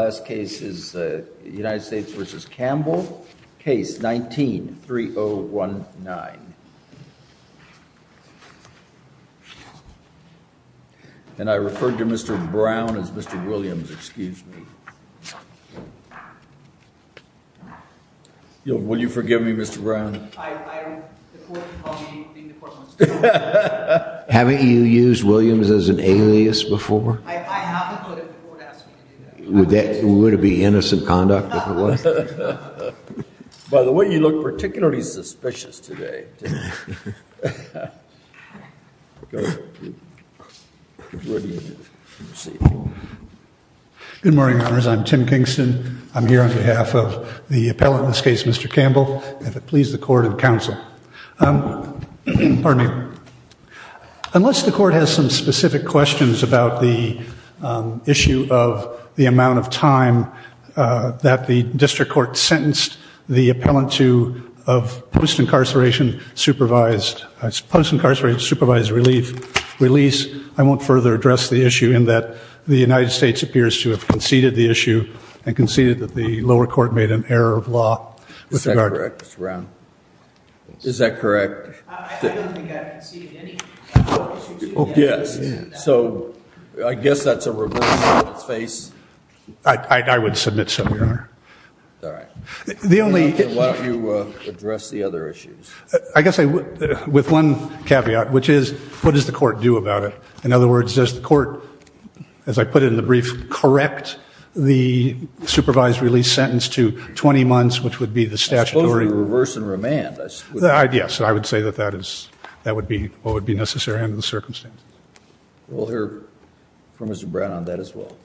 Last case is United States v. Campbell, case 19-3019. And I refer to Mr. Brown as Mr. Williams, excuse me. Will you forgive me Mr. Brown? Haven't you used Williams as an alias before? I have included the court asking you to do that. Would it be innocent conduct if it was? By the way, you look particularly suspicious today. Good morning, Your Honors. I'm Tim Kingston. I'm here on behalf of the appellate in this case, Mr. Campbell, and please the court and counsel. Unless the court has some specific questions about the issue of the amount of time that the district court sentenced the appellant to post-incarceration supervised release, I won't further address the issue in that the United States appears to have conceded the issue and conceded that the lower court made an error of law. Is that correct, Mr. Brown? Is that correct? I don't think I've conceded any. Yes, so I guess that's a reversal of its face. I would submit so, Your Honor. All right. Why don't you address the other issues? I guess with one caveat, which is what does the court do about it? In other words, does the court, as I put it in the brief, correct the supervised release sentence to 20 months, which would be the statutory reverse in remand? Yes, I would say that that would be what would be necessary under the circumstances. We'll hear from Mr. Brown on that as well.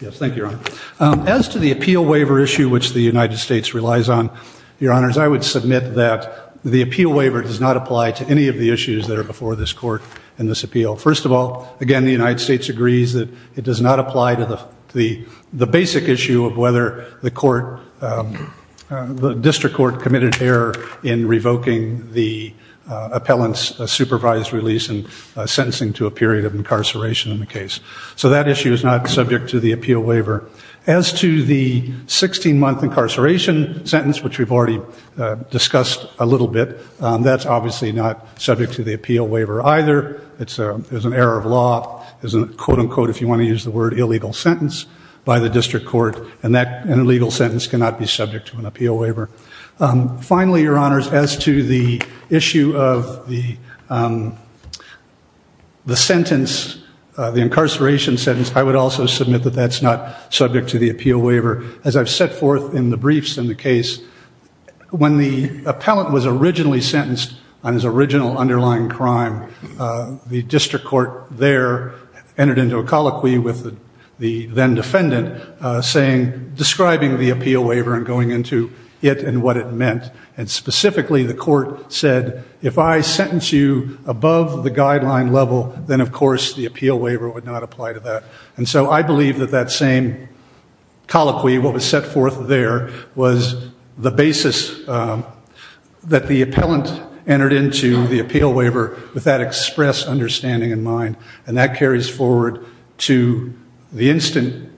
Yes, thank you, Your Honor. As to the appeal waiver issue, which the United States relies on, Your Honors, I would submit that the appeal waiver does not apply to any of the issues that are before this court in this appeal. First of all, again, the United States agrees that it does not apply to the basic issue of whether the district court committed error in revoking the appellant's supervised release and sentencing to a period of incarceration in the case. So that issue is not subject to the appeal waiver. As to the 16-month incarceration sentence, which we've already discussed a little bit, that's obviously not subject to the appeal waiver either. It's an error of law. It's a quote, unquote, if you want to use the word, illegal sentence by the district court. And an illegal sentence cannot be subject to an appeal waiver. Finally, Your Honors, as to the issue of the sentence, the incarceration sentence, I would also submit that that's not subject to the appeal waiver. As I've set forth in the briefs in the case, when the appellant was originally sentenced on his original underlying crime, the district court there entered into a colloquy with the then-defendant describing the appeal waiver and going into it and what it meant. And specifically, the court said, if I sentence you above the guideline level, then, of course, the appeal waiver would not apply to that. And so I believe that that same colloquy, what was set forth there, was the basis that the appellant entered into the appeal waiver with that express understanding in mind. And that carries forward to the instant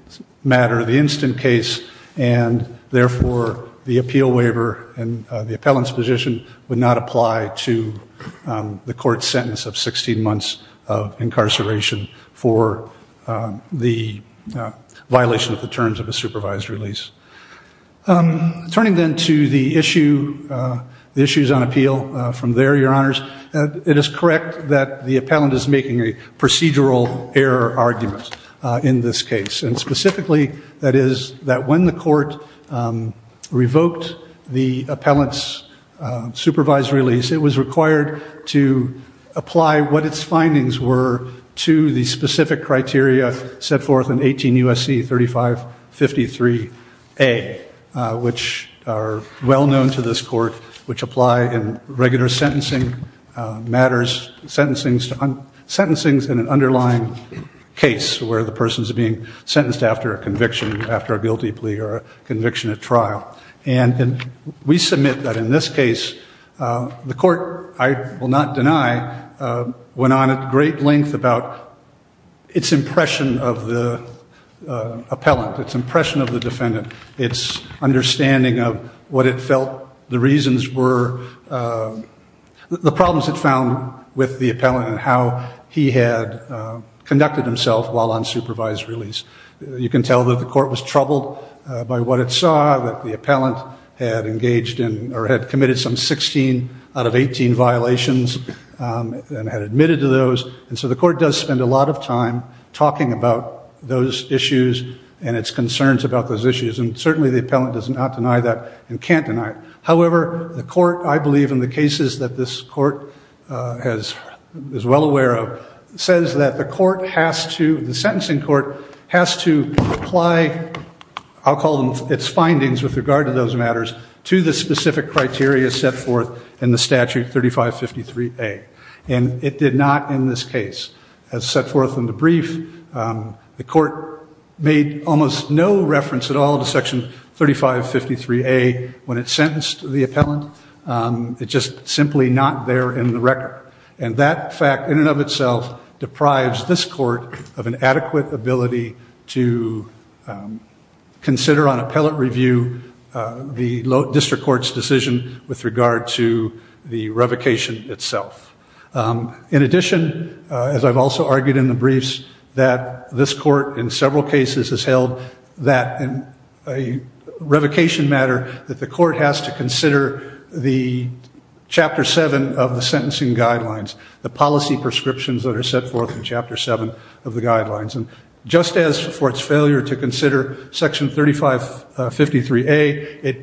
matter, the instant case. And therefore, the appeal waiver and the appellant's position would not apply to the court's sentence of 16 months of incarceration for the violation of the terms of a supervised release. Turning then to the issue, the issues on appeal from there, Your Honors, it is correct that the appellant is making a procedural error argument in this case. And specifically, that is that when the court revoked the appellant's supervised release, it was required to apply what its findings were to the specific criteria set forth in 18 U.S.C. 3553A, which are well known to this court, which apply in regular sentencing matters, sentencing in an underlying case where the person is being sentenced after a conviction, after a guilty plea or a conviction at trial. And we submit that in this case, the court, I will not deny, went on at great length about its impression of the appellant, its impression of the defendant, its understanding of what it felt the reasons were, the problems it found with the appellant and how he had conducted himself while on supervised release. You can tell that the court was troubled by what it saw, that the appellant had engaged in or had committed some 16 out of 18 violations and had admitted to those. And so the court does spend a lot of time talking about those issues and its concerns about those issues. And certainly the appellant does not deny that and can't deny it. However, the court, I believe in the cases that this court is well aware of, says that the court has to, the sentencing court has to apply, I'll call them its findings with regard to those matters, to the specific criteria set forth in the statute 3553A. And it did not in this case. As set forth in the brief, the court made almost no reference at all to section 3553A when it sentenced the appellant. It's just simply not there in the record. And that fact in and of itself deprives this court of an adequate ability to consider on appellate review the district court's decision with regard to the revocation itself. In addition, as I've also argued in the briefs, that this court in several cases has held that a revocation matter, that the court has to consider the Chapter 7 of the sentencing guidelines, the policy prescriptions that are set forth in Chapter 7 of the guidelines. And just as for its failure to consider section 3553A,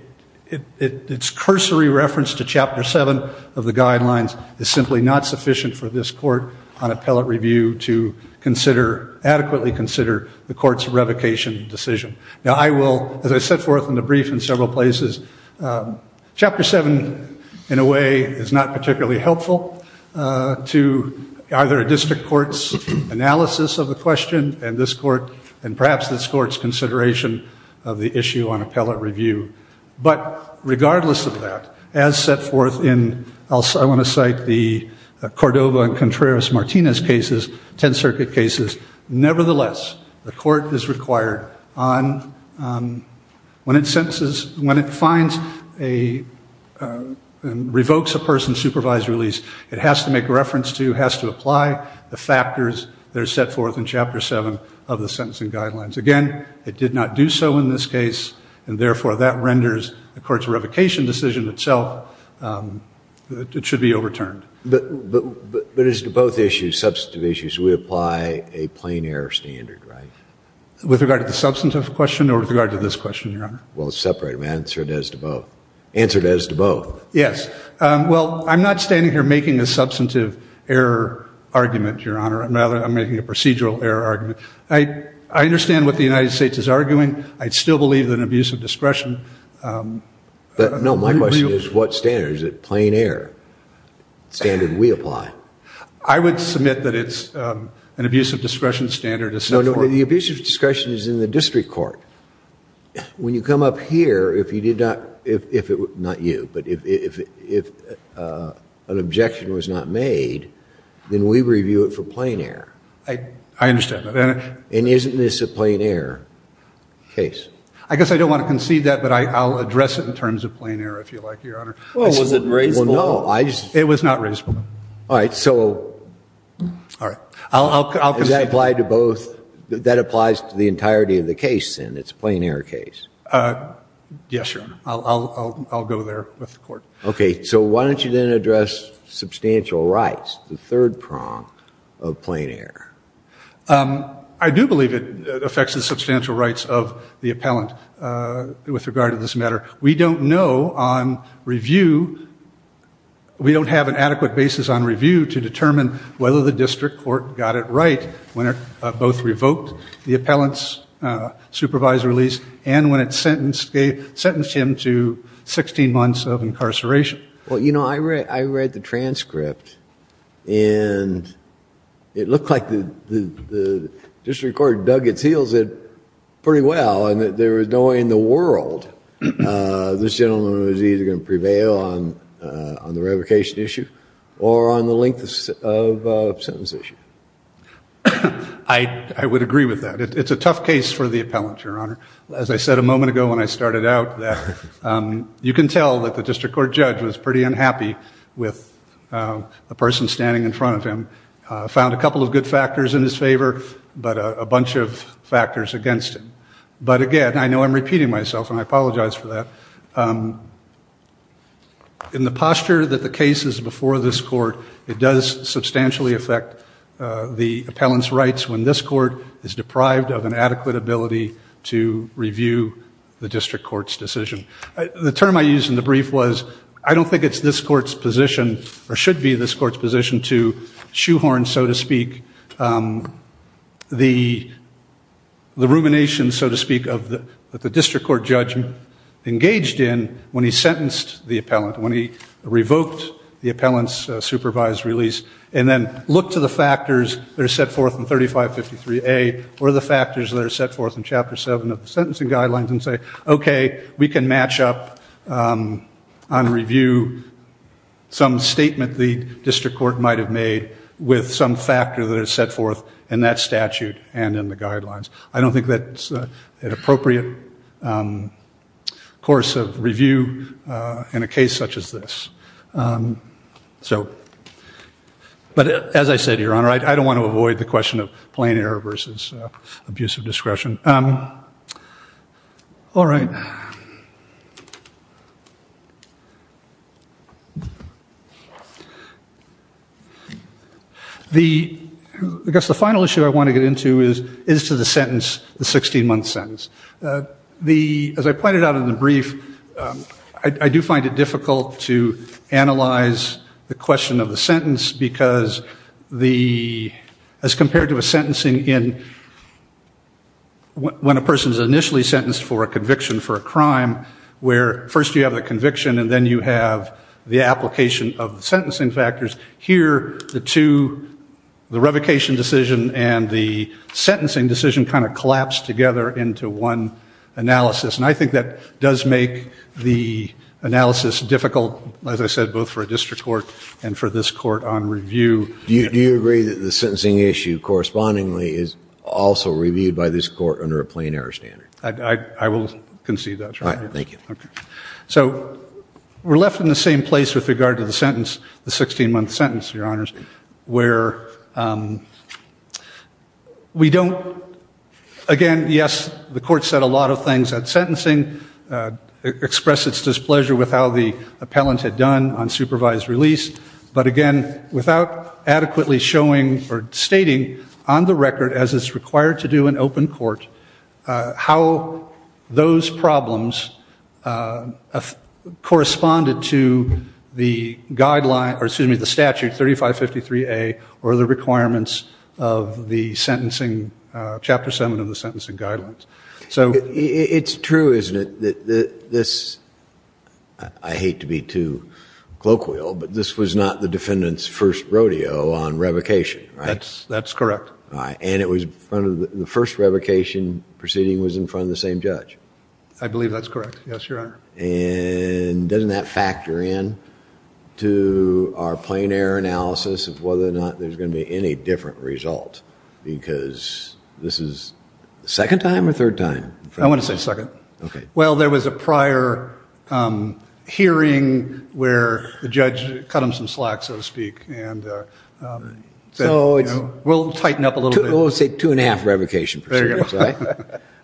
its cursory reference to Chapter 7 of the guidelines is simply not sufficient for this court on appellate review to adequately consider the court's revocation decision. Now, I will, as I set forth in the brief in several places, Chapter 7 in a way is not particularly helpful to either a district court's analysis of the question and perhaps this court's consideration of the issue on appellate review. But regardless of that, as set forth in, I want to cite the Cordova and Contreras-Martinez cases, 10th Circuit cases, nevertheless, the court is required on, when it sentences, when it finds a, revokes a person's supervised release, it has to make reference to, has to apply the factors that are set forth in Chapter 7 of the sentencing guidelines. Again, it did not do so in this case, and therefore that renders the court's revocation decision itself, it should be overturned. But as to both issues, substantive issues, we apply a plain error standard, right? With regard to the substantive question or with regard to this question, Your Honor? Well, separate, man. Answer it as to both. Answer it as to both. Yes. Well, I'm not standing here making a substantive error argument, Your Honor. Rather, I'm making a procedural error argument. I understand what the United States is arguing. I still believe that abuse of discretion. But, no, my question is what standard? Is it plain error, standard we apply? I would submit that it's an abuse of discretion standard as set forth. No, no, the abuse of discretion is in the district court. When you come up here, if you did not, if it, not you, but if an objection was not made, then we review it for plain error. I understand that. And isn't this a plain error case? I guess I don't want to concede that, but I'll address it in terms of plain error, if you like, Your Honor. Well, was it raisable? Well, no. It was not raisable. All right, so. All right. Does that apply to both? That applies to the entirety of the case, then? It's a plain error case? Yes, Your Honor. I'll go there with the court. Okay. So why don't you then address substantial rights, the third prong of plain error? I do believe it affects the substantial rights of the appellant with regard to this matter. We don't know on review, we don't have an adequate basis on review to determine whether the district court got it right when it both revoked the appellant's supervisory release and when it sentenced him to 16 months of incarceration. Well, you know, I read the transcript, and it looked like the district court dug its heels in pretty well and that there was no way in the world this gentleman was either going to prevail on the revocation issue or on the length of sentence issue. I would agree with that. It's a tough case for the appellant, Your Honor. As I said a moment ago when I started out, you can tell that the district court judge was pretty unhappy with the person standing in front of him. Found a couple of good factors in his favor, but a bunch of factors against him. But, again, I know I'm repeating myself, and I apologize for that. In the posture that the case is before this court, it does substantially affect the appellant's rights when this court is deprived of an adequate ability to review the district court's decision. The term I used in the brief was I don't think it's this court's position or should be this court's position to shoehorn, so to speak, the rumination, so to speak, of the district court judge engaged in when he sentenced the appellant, when he revoked the appellant's supervised release, and then look to the factors that are set forth in 3553A or the factors that are set forth in Chapter 7 of the sentencing guidelines and say, okay, we can match up on review some statement the district court might have made with some factor that is set forth in that statute and in the guidelines. I don't think that's an appropriate course of review in a case such as this. But, as I said, Your Honor, I don't want to avoid the question of plain error versus abusive discretion. All right. I guess the final issue I want to get into is to the sentence, the 16-month sentence. As I pointed out in the brief, I do find it difficult to analyze the question of the sentence because as compared to a sentencing in when a person is initially sentenced for a conviction for a crime where first you have a conviction and then you have the application of sentencing factors, here the two, the revocation decision and the sentencing decision kind of collapse together into one analysis. And I think that does make the analysis difficult, as I said, both for a district court and for this court on review. Do you agree that the sentencing issue correspondingly is also reviewed by this court under a plain error standard? I will concede that, Your Honor. All right. Thank you. So we're left in the same place with regard to the sentence, the 16-month sentence, Your Honors, where we don't, again, yes, the court said a lot of things at sentencing, expressed its displeasure with how the appellant had done on supervised release. But, again, without adequately showing or stating on the record, as is required to do in open court, how those problems corresponded to the statute 3553A or the requirements of Chapter 7 of the Sentencing Guidelines. It's true, isn't it, that this, I hate to be too colloquial, but this was not the defendant's first rodeo on revocation, right? That's correct. And the first revocation proceeding was in front of the same judge? I believe that's correct, yes, Your Honor. And doesn't that factor in to our plain error analysis of whether or not there's going to be any different result? Because this is the second time or third time? I want to say second. Okay. Well, there was a prior hearing where the judge cut him some slack, so to speak. So we'll tighten up a little bit. We'll say two and a half revocation proceedings, right? All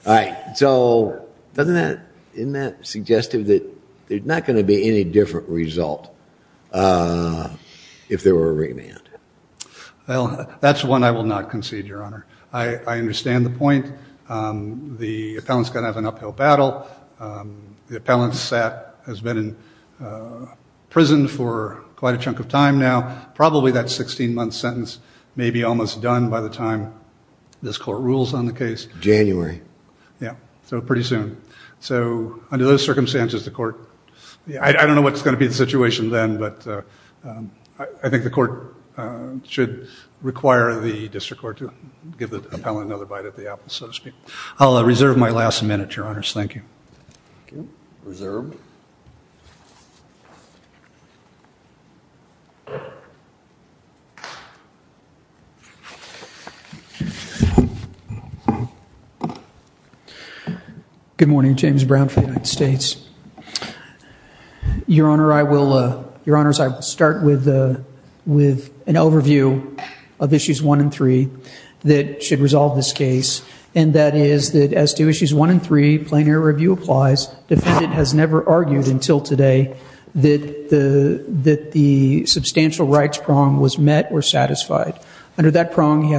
right. So doesn't that suggest that there's not going to be any different result if there were a remand? Well, that's one I will not concede, Your Honor. I understand the point. The appellant's going to have an uphill battle. The appellant has been in prison for quite a chunk of time now. Probably that 16-month sentence may be almost done by the time this court rules on the case. January. Yeah, so pretty soon. So under those circumstances, the court, I don't know what's going to be the situation then, but I think the court should require the district court to give the appellant another bite at the apple, so to speak. I'll reserve my last minute, Your Honors. Thank you. Reserved. Good morning. James Brown for the United States. Your Honors, I will start with an overview of Issues 1 and 3 that should resolve this case and that is that as to Issues 1 and 3, Plain Air Review applies, defendant has never argued until today that the substantial rights prong was met or satisfied. Under that prong, he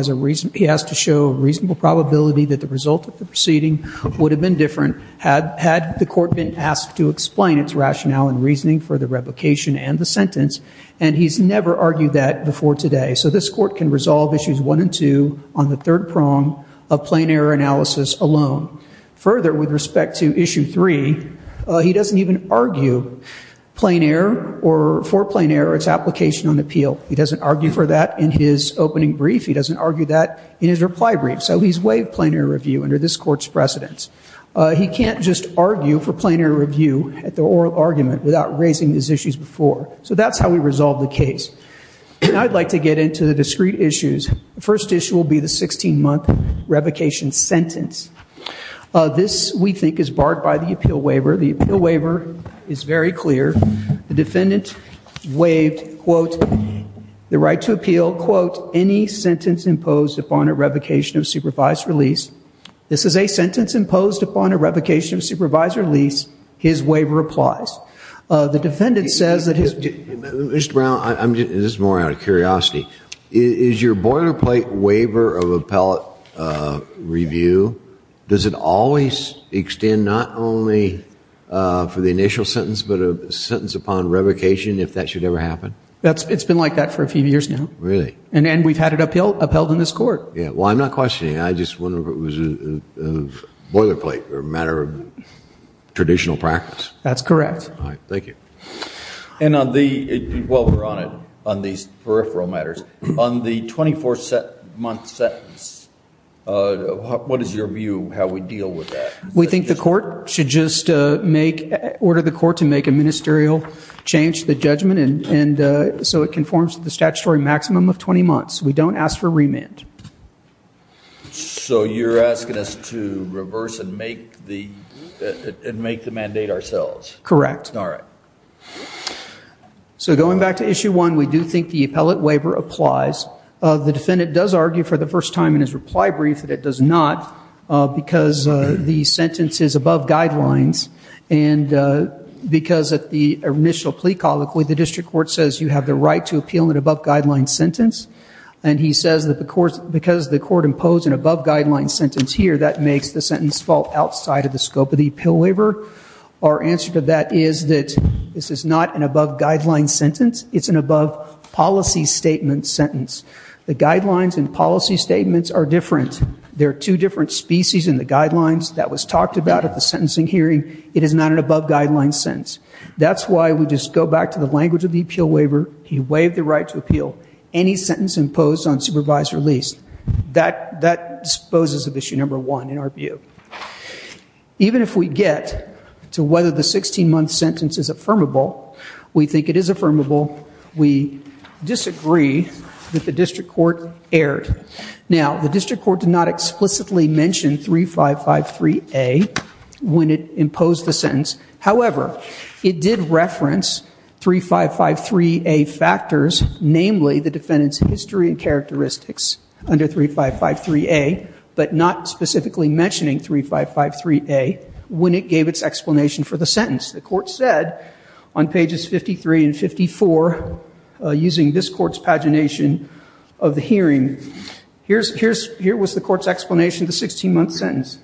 has to show reasonable probability that the result of the proceeding would have been different had the court been asked to explain its rationale and reasoning for the replication and the sentence, and he's never argued that before today. So this court can resolve Issues 1 and 2 on the third prong of Plain Air Analysis alone. Further, with respect to Issue 3, he doesn't even argue for Plain Air or its application on appeal. He doesn't argue for that in his opening brief. He doesn't argue that in his reply brief. So he's waived Plain Air Review under this court's precedence. He can't just argue for Plain Air Review at the oral argument without raising these issues before. So that's how we resolve the case. Now I'd like to get into the discrete issues. The first issue will be the 16-month revocation sentence. This, we think, is barred by the appeal waiver. The appeal waiver is very clear. The defendant waived, quote, the right to appeal, quote, any sentence imposed upon a revocation of supervised release. This is a sentence imposed upon a revocation of supervised release. His waiver applies. The defendant says that his- Mr. Brown, this is more out of curiosity. Is your boilerplate waiver of appellate review, does it always extend not only for the initial sentence but a sentence upon revocation if that should ever happen? It's been like that for a few years now. Really? And we've had it upheld in this court. Well, I'm not questioning. I just wonder if it was a boilerplate or a matter of traditional practice. That's correct. All right. Thank you. And on the-well, we're on it, on these peripheral matters. On the 24-month sentence, what is your view how we deal with that? We think the court should just make-order the court to make a ministerial change to the judgment so it conforms to the statutory maximum of 20 months. We don't ask for remand. So you're asking us to reverse and make the mandate ourselves? Correct. All right. So going back to Issue 1, we do think the appellate waiver applies. The defendant does argue for the first time in his reply brief that it does not because the sentence is above guidelines and because at the initial plea colloquy, the district court says you have the right to appeal an above guidelines sentence. And he says that because the court imposed an above guidelines sentence here, that makes the sentence fall outside of the scope of the appeal waiver. Our answer to that is that this is not an above guidelines sentence. It's an above policy statement sentence. The guidelines and policy statements are different. There are two different species in the guidelines that was talked about at the sentencing hearing. It is not an above guidelines sentence. That's why we just go back to the language of the appeal waiver. He waived the right to appeal any sentence imposed on supervisor lease. That disposes of Issue 1 in our view. Even if we get to whether the 16-month sentence is affirmable, we think it is affirmable. We disagree that the district court erred. Now, the district court did not explicitly mention 3553A when it imposed the sentence. However, it did reference 3553A factors, namely the defendant's history and characteristics under 3553A, but not specifically mentioning 3553A when it gave its explanation for the sentence. The court said on pages 53 and 54, using this court's pagination of the hearing, here was the court's explanation of the 16-month sentence.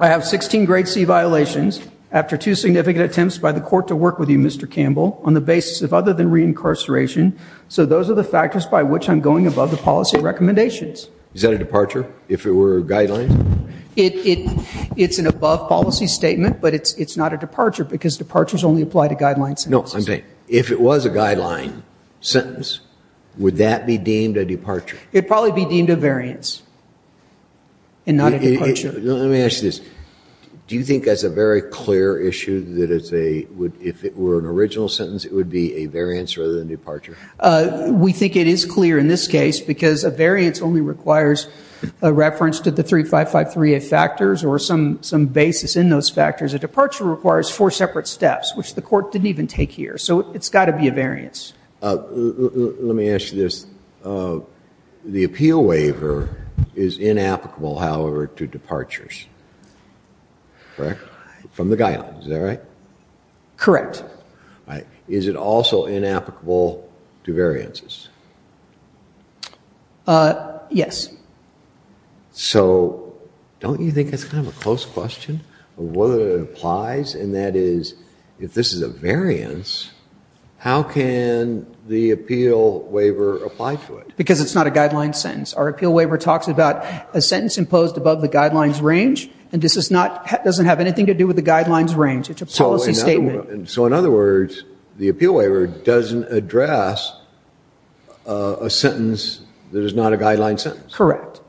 I have 16 grade C violations after two significant attempts by the court to work with you, Mr. Campbell, on the basis of other than reincarceration, so those are the factors by which I'm going above the policy recommendations. Is that a departure if it were a guideline? It's an above policy statement, but it's not a departure because departures only apply to guideline sentences. No, I'm saying if it was a guideline sentence, would that be deemed a departure? It would probably be deemed a variance and not a departure. Let me ask you this. Do you think that's a very clear issue that if it were an original sentence, it would be a variance rather than a departure? We think it is clear in this case because a variance only requires a reference to the 3553A factors or some basis in those factors. A departure requires four separate steps, which the court didn't even take here, so it's got to be a variance. Let me ask you this. The appeal waiver is inapplicable, however, to departures. Correct? From the guidelines. Is that right? Correct. All right. Is it also inapplicable to variances? Yes. So don't you think that's kind of a close question of whether it applies, and that is if this is a variance, how can the appeal waiver apply to it? Because it's not a guideline sentence. Our appeal waiver talks about a sentence imposed above the guidelines range, and this doesn't have anything to do with the guidelines range. It's a policy statement. So, in other words, the appeal waiver doesn't address a sentence that is not a guideline sentence. Correct.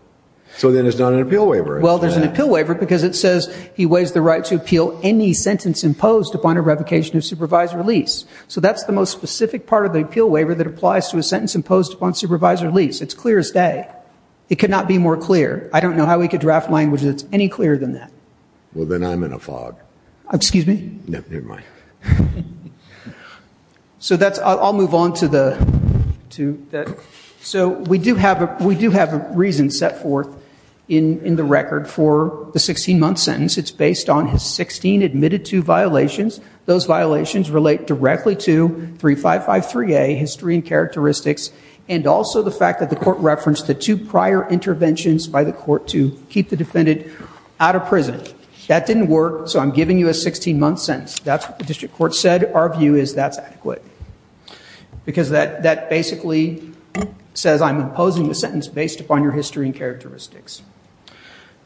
So then it's not an appeal waiver. Well, there's an appeal waiver because it says he weighs the right to appeal any sentence imposed upon a revocation of supervisor lease. So that's the most specific part of the appeal waiver that applies to a sentence imposed upon supervisor lease. It's clear as day. It could not be more clear. I don't know how we could draft language that's any clearer than that. Well, then I'm in a fog. Excuse me? Never mind. So I'll move on to that. So we do have a reason set forth in the record for the 16-month sentence. It's based on his 16 admitted to violations. Those violations relate directly to 3553A, history and characteristics, and also the fact that the court referenced the two prior interventions by the court to keep the defendant out of prison. That didn't work, so I'm giving you a 16-month sentence. That's what the district court said. Our view is that's adequate because that basically says I'm imposing the sentence based upon your history and characteristics.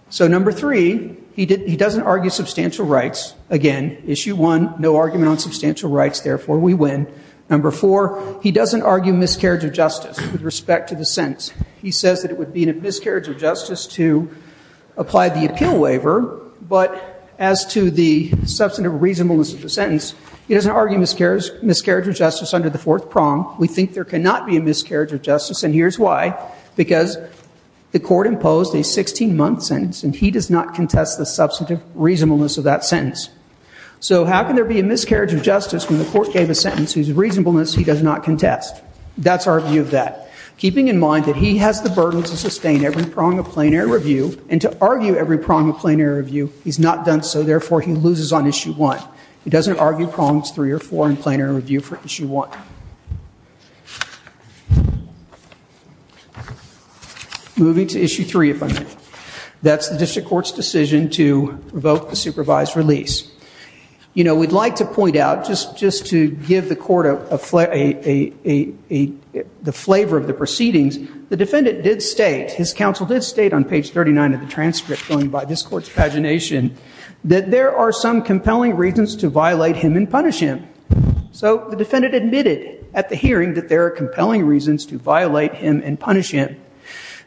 So number three, he doesn't argue substantial rights. Again, issue one, no argument on substantial rights. Therefore, we win. Number four, he doesn't argue miscarriage of justice with respect to the sentence. He says that it would be a miscarriage of justice to apply the appeal waiver, but as to the substantive reasonableness of the sentence, he doesn't argue miscarriage of justice under the fourth prong. We think there cannot be a miscarriage of justice, and here's why. Because the court imposed a 16-month sentence, and he does not contest the substantive reasonableness of that sentence. So how can there be a miscarriage of justice when the court gave a sentence whose reasonableness he does not contest? That's our view of that. Keeping in mind that he has the burden to sustain every prong of plenary review and to argue every prong of plenary review, he's not done so. Therefore, he loses on issue one. He doesn't argue prongs three or four in plenary review for issue one. Moving to issue three, if I may. That's the district court's decision to revoke the supervised release. We'd like to point out, just to give the court the flavor of the proceedings, the defendant did state, his counsel did state on page 39 of the transcript going by this court's pagination, that there are some compelling reasons to violate him and punish him. So the defendant admitted at the hearing that there are compelling reasons to violate him and punish him.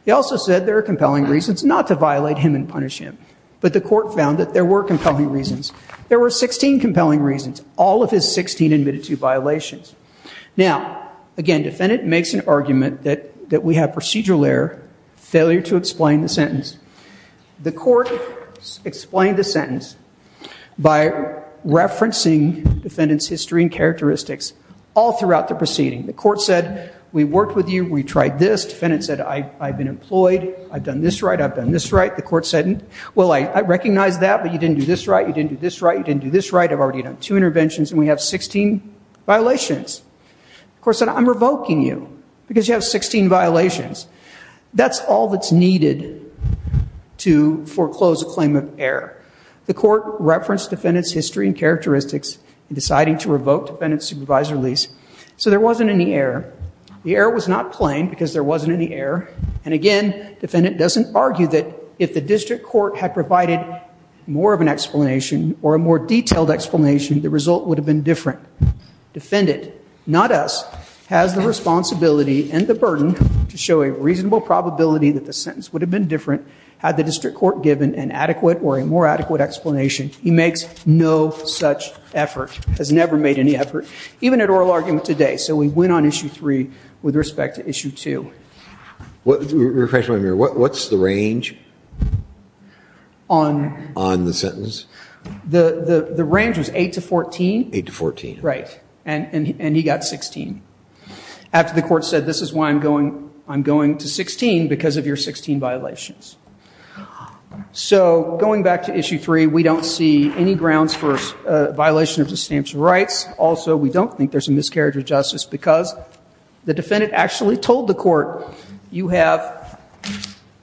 He also said there are compelling reasons not to violate him and punish him. But the court found that there were compelling reasons. There were 16 compelling reasons. All of his 16 admitted to violations. Now, again, defendant makes an argument that we have procedural error, failure to explain the sentence. The court explained the sentence by referencing defendant's history and characteristics all throughout the proceeding. The court said, we worked with you, we tried this. Defendant said, I've been employed, I've done this right, I've done this right. The court said, well, I recognize that, but you didn't do this right, you didn't do this right, you didn't do this right. I've already done two interventions, and we have 16 violations. The court said, I'm revoking you because you have 16 violations. That's all that's needed to foreclose a claim of error. The court referenced defendant's history and characteristics in deciding to revoke defendant's supervised release. So there wasn't any error. The error was not plain because there wasn't any error. And again, defendant doesn't argue that if the district court had provided more of an explanation or a more detailed explanation, the result would have been different. Defendant, not us, has the responsibility and the burden to show a reasonable probability that the sentence would have been different had the district court given an adequate or a more adequate explanation. He makes no such effort, has never made any effort, even at oral argument today. So we win on Issue 3 with respect to Issue 2. Refresh my memory. What's the range on the sentence? The range was 8 to 14. 8 to 14. Right. And he got 16. After the court said, this is why I'm going to 16, because of your 16 violations. So going back to Issue 3, we don't see any grounds for violation of substantial rights. Also, we don't think there's a miscarriage of justice because the defendant actually told the court, you have,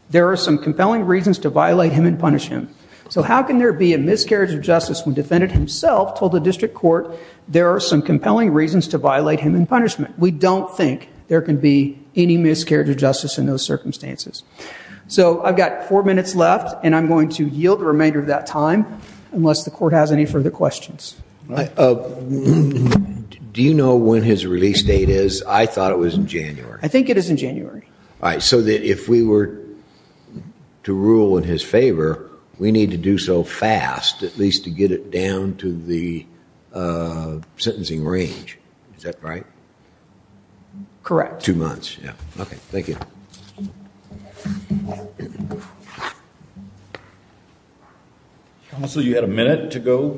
there are some compelling reasons to violate him and punish him. So how can there be a miscarriage of justice when defendant himself told the district court, there are some compelling reasons to violate him in punishment? We don't think there can be any miscarriage of justice in those circumstances. So I've got four minutes left, and I'm going to yield the remainder of that time unless the court has any further questions. Do you know when his release date is? I thought it was in January. I think it is in January. All right. So if we were to rule in his favor, we need to do so fast, at least to get it down to the sentencing range. Is that right? Correct. Two months. Okay. Thank you. Counsel, you had a minute to go.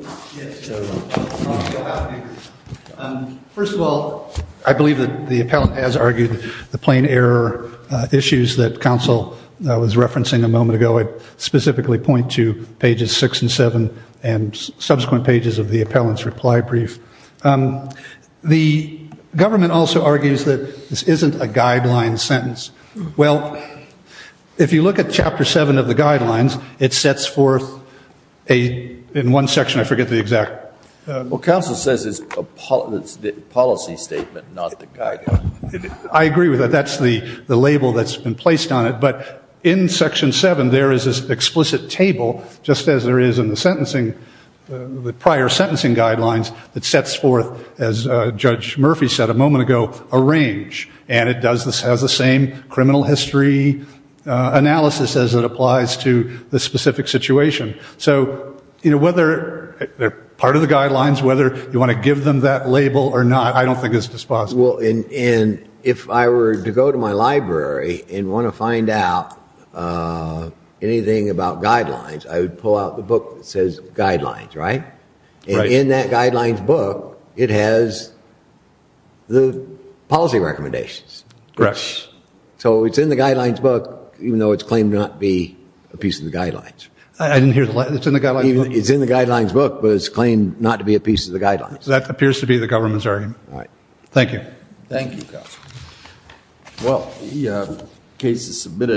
First of all, I believe that the appellant has argued the plain error issues that counsel was referencing a moment ago. I specifically point to pages 6 and 7 and subsequent pages of the appellant's reply brief. The government also argues that this isn't a guideline sentence. Well, if you look at Chapter 7 of the guidelines, it sets forth in one section, I forget the exact. Well, counsel says it's a policy statement, not the guideline. I agree with that. That's the label that's been placed on it. But in Section 7, there is this explicit table, just as there is in the prior sentencing guidelines, that sets forth, as Judge Murphy said a moment ago, a range. And it has the same criminal history analysis as it applies to the specific situation. So whether they're part of the guidelines, whether you want to give them that label or not, I don't think is possible. And if I were to go to my library and want to find out anything about guidelines, I would pull out the book that says guidelines, right? Right. And in that guidelines book, it has the policy recommendations. Correct. So it's in the guidelines book, even though it's claimed not to be a piece of the guidelines. I didn't hear the line. It's in the guidelines book? It's in the guidelines book, but it's claimed not to be a piece of the guidelines. That appears to be the government's argument. All right. Thank you. Thank you, counsel. Well, the case is submitted.